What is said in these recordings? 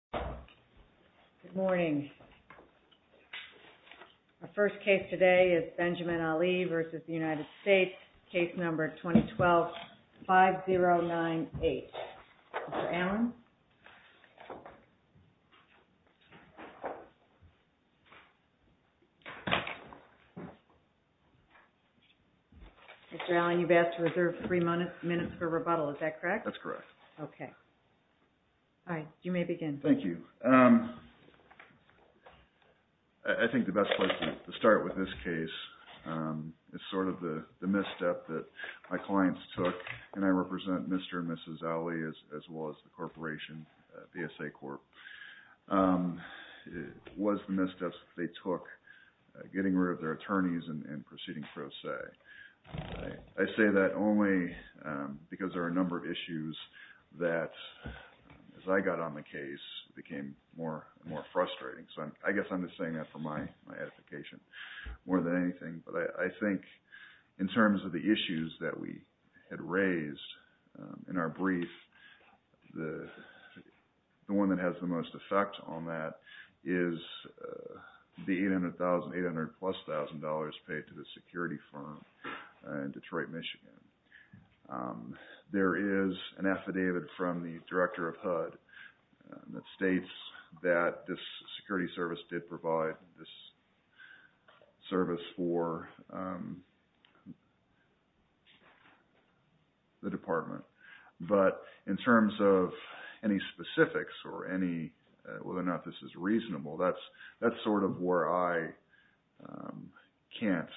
2012, 5098. Mr. Allen? Mr. Allen, you've asked to reserve three minutes for rebuttal. Is that correct? That's correct. Okay. All right. You may begin. Thank you. I think the best place to start with this case is sort of the misstep that my clients took, and I represent Mr. and Mrs. Alli as well as the corporation, VSA Corp., was the misstep they took, getting rid of their attorneys and proceeding pro se. I say that only because there are a number of issues that, as I got on the case, became more and more frustrating. So I guess I'm just saying that for my edification more than anything. But I think in terms of the issues that we had raised in our brief, the one that has the most effect on that is the $800,000, $800-plus-thousand paid to the security firm in Detroit, Michigan. There is an affidavit from the director of HUD that states that this security service did provide this service for the department. But in terms of any specifics or whether or not this is reasonable, that's sort of where I can't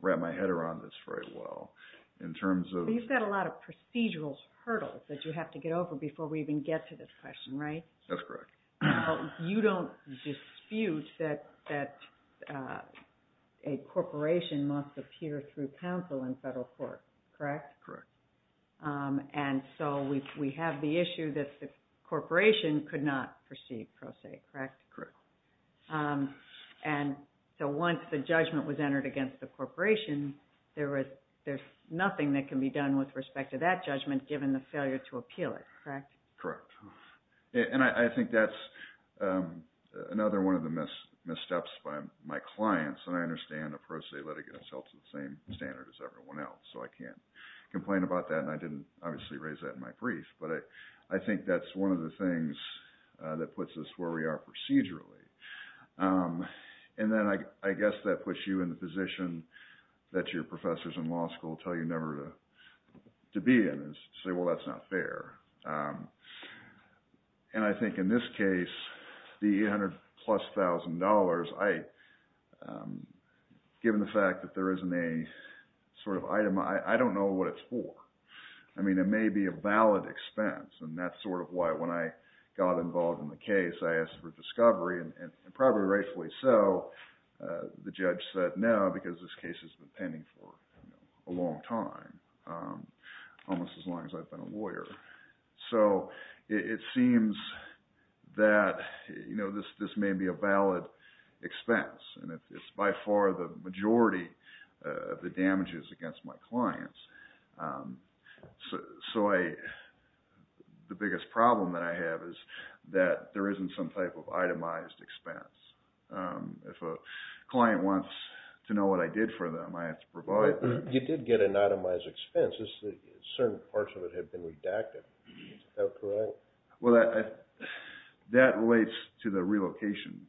wrap my head around this very well in terms of... But you've got a lot of procedural hurdles that you have to get over before we even get to this question, right? That's correct. You don't dispute that a corporation must appear through counsel in federal court, correct? Correct. And so we have the issue that the corporation could not proceed pro se, correct? Correct. And so once the judgment was entered against the corporation, there's nothing that can be done with respect to that judgment given the failure to appeal it, correct? Correct. And I think that's another one of the missteps by my clients. And I understand a pro se litigants held to the same standard as everyone else, so I can't complain about that. And I didn't obviously raise that in my brief. But I think that's one of the things that puts us where we are procedurally. And then I guess that puts you in the position that your professors in law school tell you never to be in and say, well, that's not fair. And I think in this case, the 800 plus thousand dollars, given the fact that there isn't a sort of item, I don't know what it's for. I mean, it may be a valid expense, and that's sort of why when I got involved in the case, I asked for discovery. And probably rightfully so, the judge said no, because this case has been pending for a long time, almost as long as I've been a lawyer. So it seems that this may be a valid expense. And it's by far the biggest problem that I have is that there isn't some type of itemized expense. If a client wants to know what I did for them, I have to provide them. You did get an itemized expense. Certain parts of it had been redacted. Is that correct? Well, that relates to the relocation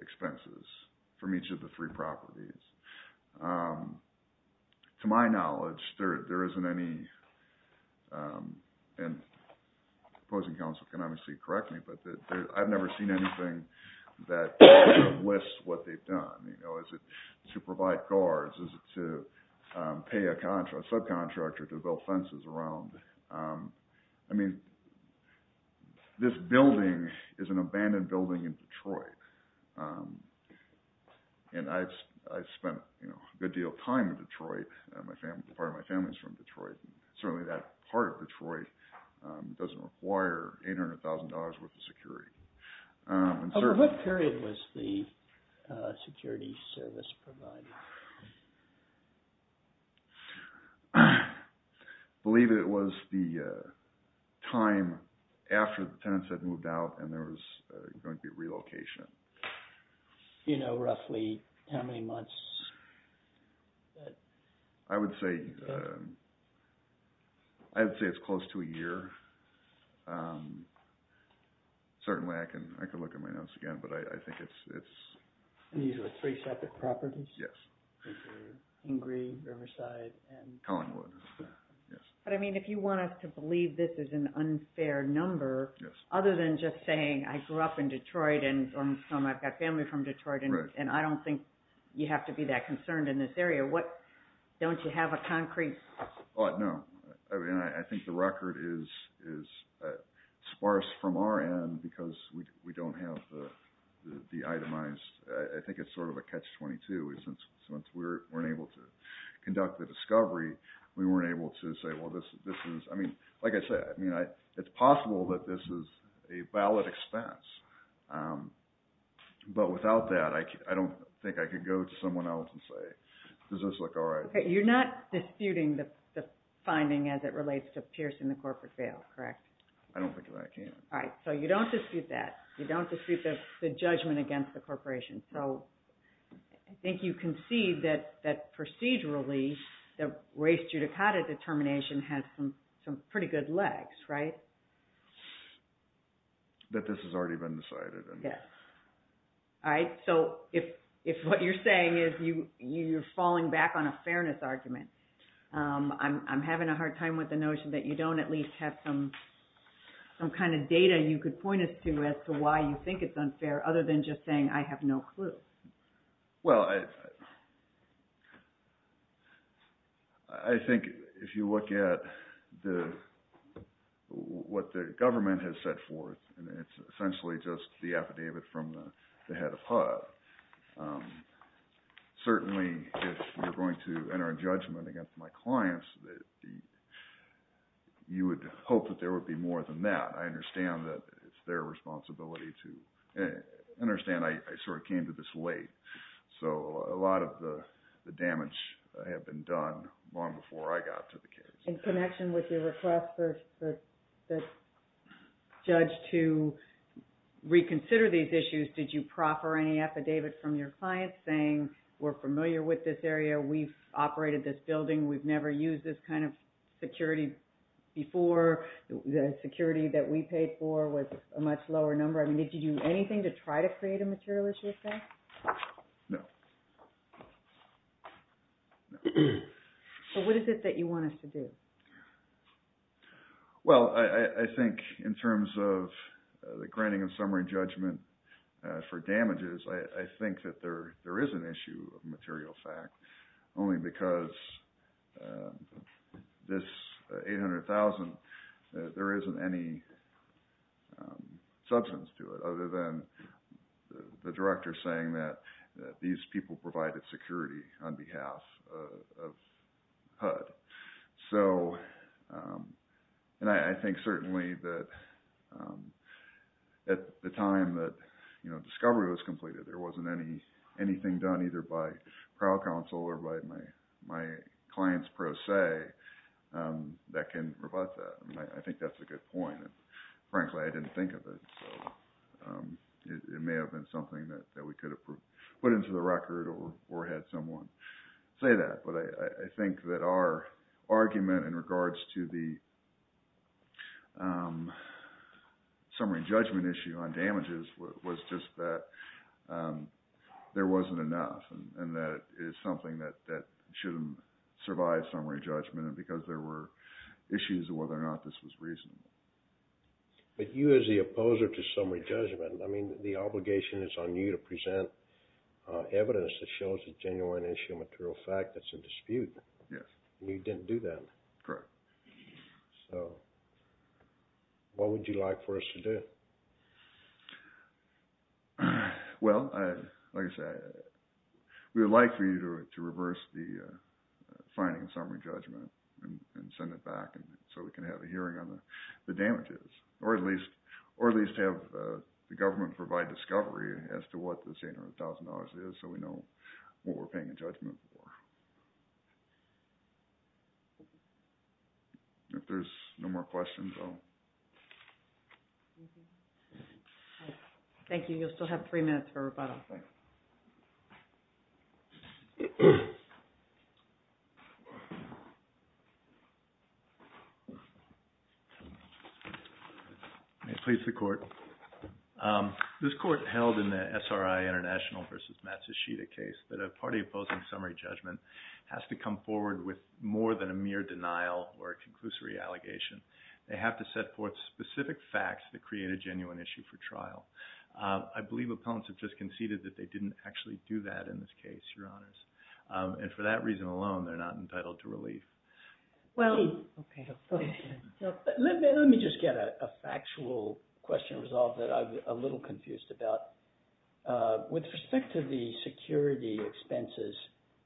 expenses from each of the three properties. To my knowledge, there isn't any, and opposing counsel can obviously correct me, but I've never seen anything that lists what they've done. Is it to provide guards? Is it to pay a subcontractor to build fences around? I mean, this building is an abandoned building in Detroit. And I've my family is from Detroit. Certainly that part of Detroit doesn't require $800,000 worth of security. Over what period was the security service provided? I believe it was the time after the tenants had moved out and there was going to be relocation. Do you know roughly how many months? I would say it's close to a year. Certainly I can look at my notes again, but I think it's... These are three separate properties? Yes. Ingrid, Riverside, and... Collingwood. But I mean, if you want us to believe this is an unfair number, other than just saying, I grew up in Detroit and I've got family from Detroit, and I don't think you have to be that concerned in this area. Don't you have a concrete... No. I mean, I think the record is sparse from our end because we don't have the itemized... I think it's sort of a catch-22. Since we weren't able to conduct the discovery, we weren't able to say, well, this is... Like I said, it's possible that this is a valid expense. But without that, I don't think I could go to someone else and say, does this look all right? You're not disputing the finding as it relates to piercing the corporate veil, correct? I don't think that I can. All right. So you don't dispute that. You don't dispute the judgment against the corporation. So I think you can see that procedurally, the race judicata determination has some pretty good legs, right? That this has already been decided. Yes. All right. So if what you're saying is you're falling back on a fairness argument, I'm having a hard time with the notion that you don't at least have some kind of data you could point us to as to why you think it's Well, I think if you look at what the government has set forth, it's essentially just the affidavit from the head of HUD. Certainly, if you're going to enter a judgment against my clients, you would hope that there would be more than that. I understand that it's their responsibility to – I understand I sort of came to this late. So a lot of the damage had been done long before I got to the case. In connection with your request for the judge to reconsider these issues, did you proffer any affidavit from your clients saying we're familiar with this area, we've operated this building, we've never used this kind of security before, the security that we paid for was a much lower number? I mean, did you do anything to try to create a material issue of fact? No. So what is it that you want us to do? Well, I think in terms of the granting of summary judgment for damages, I think that there is an issue of material fact, only because this $800,000, there isn't any substance to it other than the director saying that these people provided security on behalf of HUD. And I think certainly that at the time that discovery was completed, there wasn't anything done either by crowd counsel or by my clients per se that can rebut that. I think that's a good point. Frankly, I didn't think of it. It may have been something that we could have put into the record or had someone say that. But I think that our argument in regards to the summary judgment issue on damages was just that there wasn't enough. And that is something that shouldn't survive summary judgment because there were issues of whether or not this was reasonable. But you as the opposer to summary judgment, I mean, the obligation is on you to present evidence that shows a genuine issue of material fact that's in dispute. Yes. And you didn't do that. Correct. So what would you like for us to do? Well, like I said, we would like for you to reverse the finding of summary judgment and send it back so we can have a hearing on the damages. Or at least have the government provide discovery as to what this $800,000 is so we know what we're paying a judgment for. If there's no more questions, I'll… Thank you. You'll still have three minutes for rebuttal. This court held in the SRI International v. Matsushita case that a party opposing summary judgment has to come forward with more than a mere denial or a conclusory allegation. They have to set forth specific facts that create a genuine issue for trial. I believe opponents have just conceded that they didn't actually do that in this case, Your Honors. And for that reason alone, they're not entitled to relief. Let me just get a factual question resolved that I'm a little confused about. With respect to the security expenses,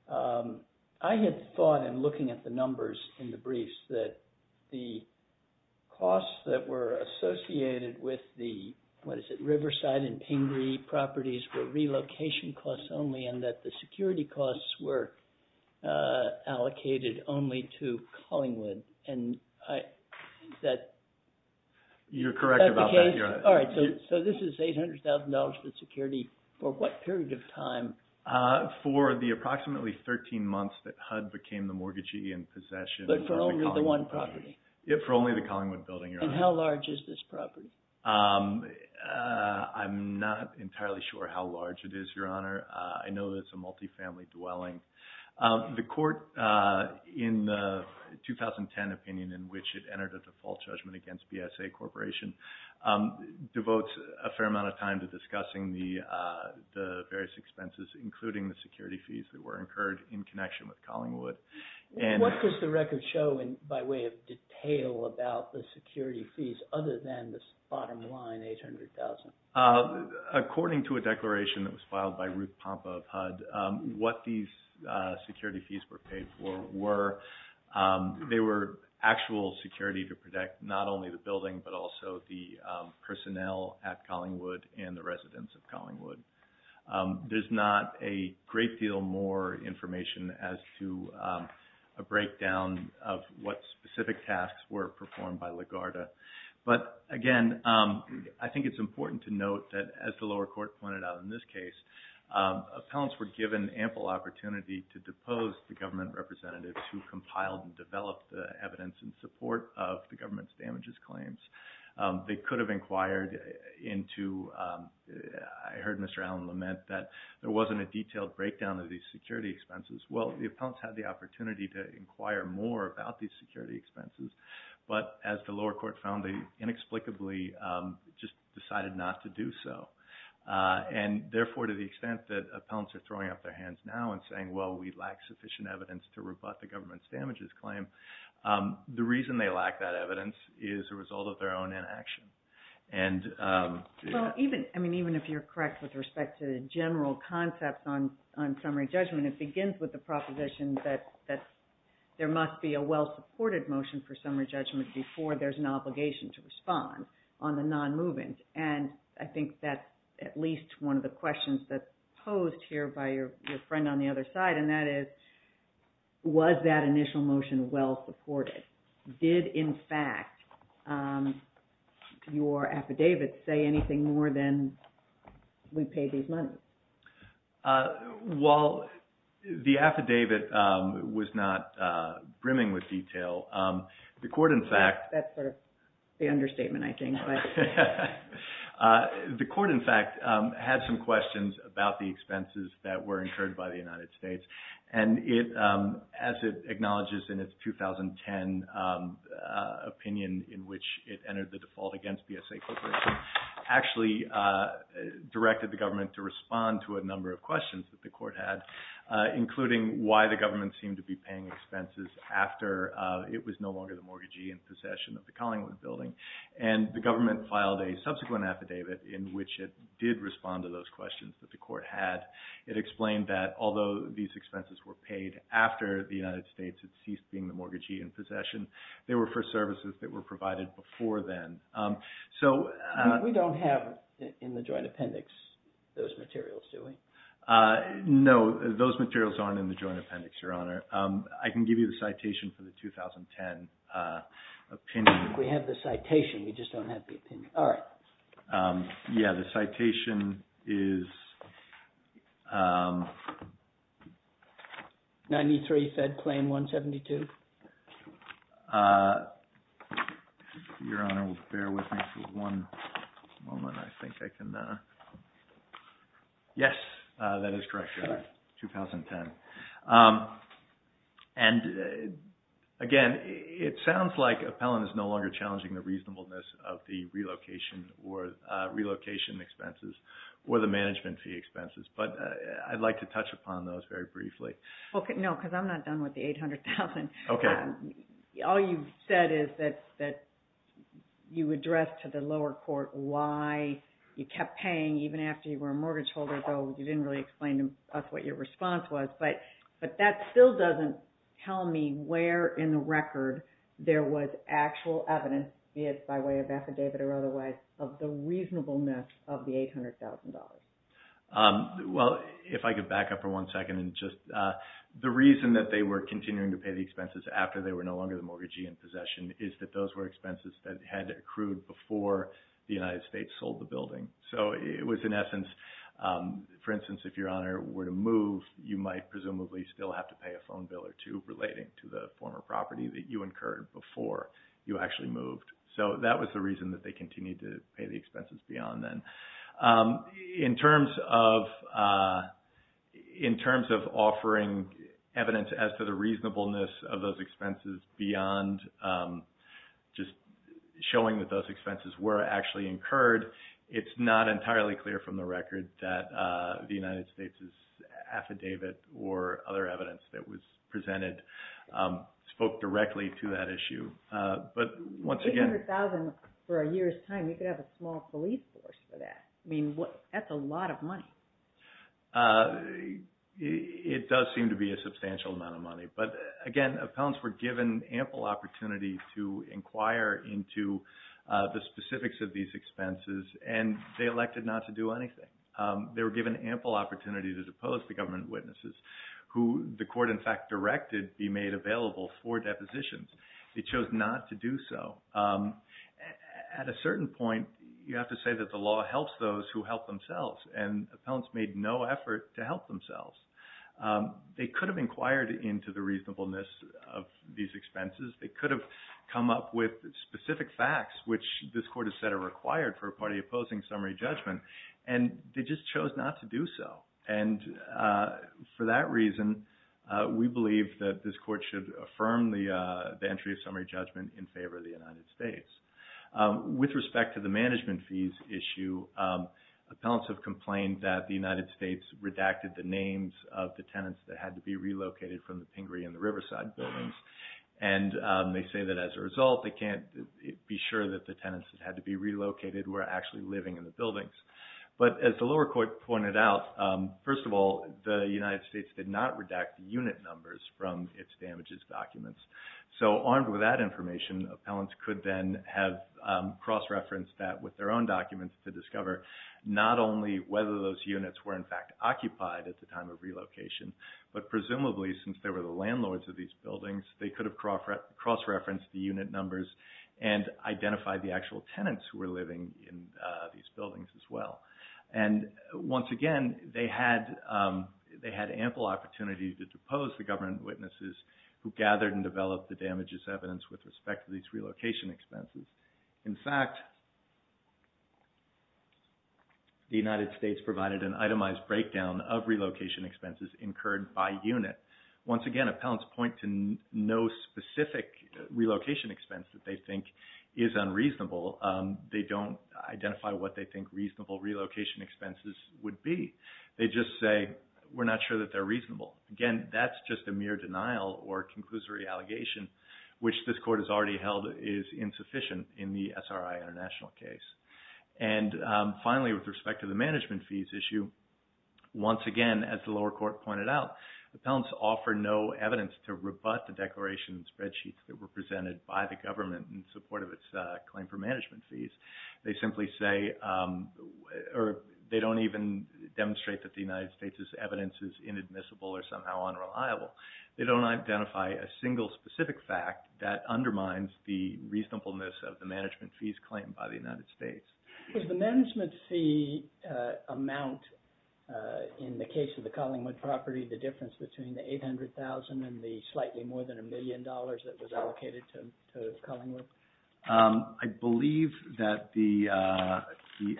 I had thought in looking at the numbers in the briefs that the costs that were associated with the, what is it, Riverside and Pingree properties were relocation costs only, and that the security costs were allocated only to Collingwood. And I think that… You're correct about that, Your Honor. All right. So this is $800,000 in security for what period of time? For the approximately 13 months that HUD became the mortgagee in possession of the Collingwood property. But for only the one property? For only the Collingwood building, Your Honor. And how large is this property? I'm not entirely sure how large it is, Your Honor. I know it's a multifamily dwelling. The court in the 2010 opinion in which it entered a default judgment against BSA Corporation devotes a fair amount of time to discussing the various expenses, including the security fees that were incurred in connection with Collingwood. What does the record show by way of detail about the security fees other than this bottom line $800,000? According to a declaration that was filed by Ruth Pompa of HUD, what these security fees were paid for were, they were actual security to protect not only the building but also the personnel at Collingwood and the residents of Collingwood. There's not a great deal more information as to a breakdown of what specific tasks were performed by LaGuardia. But again, I think it's important to note that as the lower court pointed out in this case, appellants were given ample opportunity to depose the government representatives who compiled and developed the evidence in support of the government's damages claims. They could have inquired into, I heard Mr. Allen lament that there wasn't a detailed breakdown of these security expenses. Well, the appellants had the opportunity to inquire more about these security expenses, but as the lower court found, they inexplicably just decided not to do so. Therefore, to the extent that appellants are throwing up their hands now and saying, well, we lack sufficient evidence to rebut the government's damages claim, the reason they lack that evidence is a result of their own inaction. Even if you're correct with respect to the general concepts on summary judgment, it begins with the proposition that there must be a well-supported motion for summary judgment before there's an obligation to respond on the non-movement. And I think that's at least one of the questions that's posed here by your friend on the other side, and that is, was that initial motion well-supported? Did, in fact, your affidavit say anything more than we pay these monies? Well, the affidavit was not brimming with detail. That's sort of the understatement, I think. The court, in fact, had some questions about the expenses that were incurred by the United States, and as it acknowledges in its 2010 opinion in which it entered the default against BSA Corporation, actually directed the government to respond to a number of questions that the court had, including why the government seemed to be paying expenses after it was no longer the mortgagee in possession of the Collingwood Building. And the government filed a subsequent affidavit in which it did respond to those questions that the court had. It explained that although these expenses were paid after the United States had ceased being the mortgagee in possession, they were for services that were provided before then. We don't have in the Joint Appendix those materials, do we? No, those materials aren't in the Joint Appendix, Your Honor. I can give you the citation for the 2010 opinion. We have the citation, we just don't have the opinion. All right. Yeah, the citation is... 93, Fed Plan 172. If Your Honor will bear with me for one moment, I think I can... Yes, that is correct, Your Honor, 2010. And again, it sounds like Appellant is no longer challenging the reasonableness of the relocation expenses or the management fee expenses, but I'd like to touch upon those very briefly. No, because I'm not done with the $800,000. All you've said is that you addressed to the lower court why you kept paying even after you were a mortgage holder, though you didn't really explain to us what your response was. But that still doesn't tell me where in the record there was actual evidence, be it by way of affidavit or otherwise, of the reasonableness of the $800,000. Well, if I could back up for one second and just... The reason that they were continuing to pay the expenses after they were no longer the mortgagee in possession is that those were expenses that had accrued before the United States sold the building. So it was in essence, for instance, if Your Honor were to move, you might presumably still have to pay a phone bill or two relating to the former property that you incurred before you actually moved. So that was the reason that they continued to pay the expenses beyond then. In terms of offering evidence as to the reasonableness of those expenses beyond just showing that those expenses were actually incurred, it's not entirely clear from the record that the United States' affidavit or other evidence that was presented spoke directly to that issue. $800,000 for a year's time, you could have a small police force for that. I mean, that's a lot of money. It does seem to be a substantial amount of money. But again, appellants were given ample opportunity to inquire into the specifics of these expenses, and they elected not to do anything. They were given ample opportunity to depose the government witnesses, who the court in fact directed be made available for depositions. They chose not to do so. At a certain point, you have to say that the law helps those who help themselves, and appellants made no effort to help themselves. They could have inquired into the reasonableness of these expenses. They could have come up with specific facts, which this court has said are required for a party opposing summary judgment, and they just chose not to do so. And for that reason, we believe that this court should affirm the entry of summary judgment in favor of the United States. With respect to the management fees issue, appellants have complained that the United States redacted the names of the tenants that had to be relocated from the Pingree and the Riverside buildings. And they say that as a result, they can't be sure that the tenants that had to be relocated were actually living in the buildings. But as the lower court pointed out, first of all, the United States did not redact the unit numbers from its damages documents. So armed with that information, appellants could then have cross-referenced that with their own documents to discover not only whether those units were in fact occupied at the time of relocation, but presumably since they were the landlords of these buildings, they could have cross-referenced the unit numbers and identified the actual tenants who were living in these buildings as well. And once again, they had ample opportunity to depose the government witnesses who gathered and developed the damages evidence with respect to these relocation expenses. In fact, the United States provided an itemized breakdown of relocation expenses incurred by unit. Once again, appellants point to no specific relocation expense that they think is unreasonable. They don't identify what they think reasonable relocation expenses would be. They just say, we're not sure that they're reasonable. Again, that's just a mere denial or a conclusory allegation, which this court has already held is insufficient in the SRI international case. And finally, with respect to the management fees issue, once again, as the lower court pointed out, appellants offer no evidence to rebut the declaration and spreadsheets that were presented by the government in support of its claim for management fees. They simply say, or they don't even demonstrate that the United States' evidence is inadmissible or somehow unreliable. They don't identify a single specific fact that undermines the reasonableness of the management fees claim by the United States. Is the management fee amount, in the case of the Collingwood property, the difference between the $800,000 and the slightly more than a million dollars that was allocated to Collingwood? I believe that the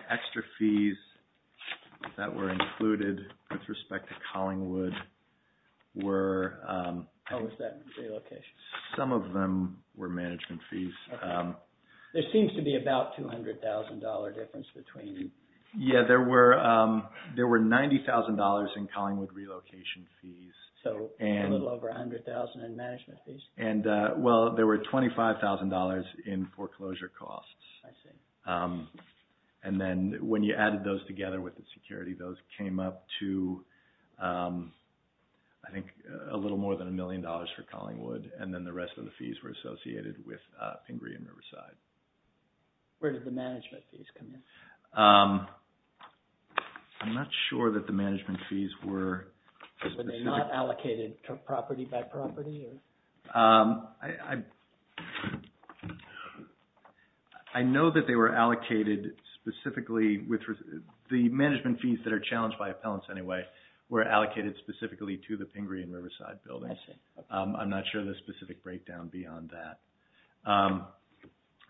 extra fees that were included with respect to Collingwood were... Oh, was that relocation? Some of them were management fees. There seems to be about $200,000 difference between... Yeah, there were $90,000 in Collingwood relocation fees. So a little over $100,000 in management fees? Well, there were $25,000 in foreclosure costs. I see. And then when you added those together with the security, those came up to, I think, a little more than a million dollars for Collingwood, and then the rest of the fees were associated with Pingree and Riverside. Where did the management fees come in? I'm not sure that the management fees were... Were they not allocated property by property? I know that they were allocated specifically with... The management fees that are challenged by appellants, anyway, were allocated specifically to the Pingree and Riverside buildings. I see. I'm not sure of the specific breakdown beyond that.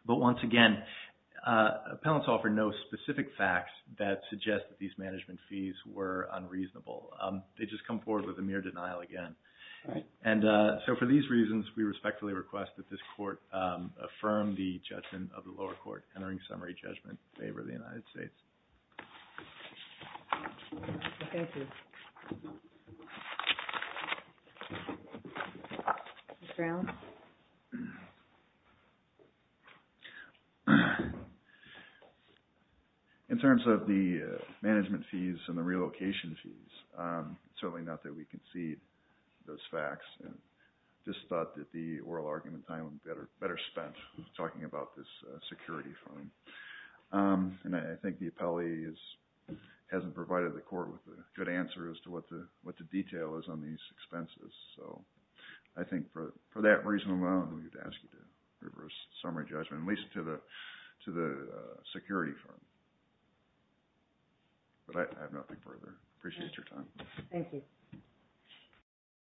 But once again, appellants offer no specific facts that suggest that these management fees were unreasonable. They just come forward with a mere denial again. And so for these reasons, we respectfully request that this court affirm the judgment of the lower court entering summary judgment in favor of the United States. Thank you. Mr. Allen? In terms of the management fees and the relocation fees, it's certainly not that we concede those facts. I just thought that the oral argument time would be better spent talking about this security fund. And I think the appellee hasn't provided the court with a good answer as to what the detail is on these expenses. So I think for that reason alone, we would ask you to reverse summary judgment, at least to the security fund. But I have nothing further. Appreciate your time. Thank you.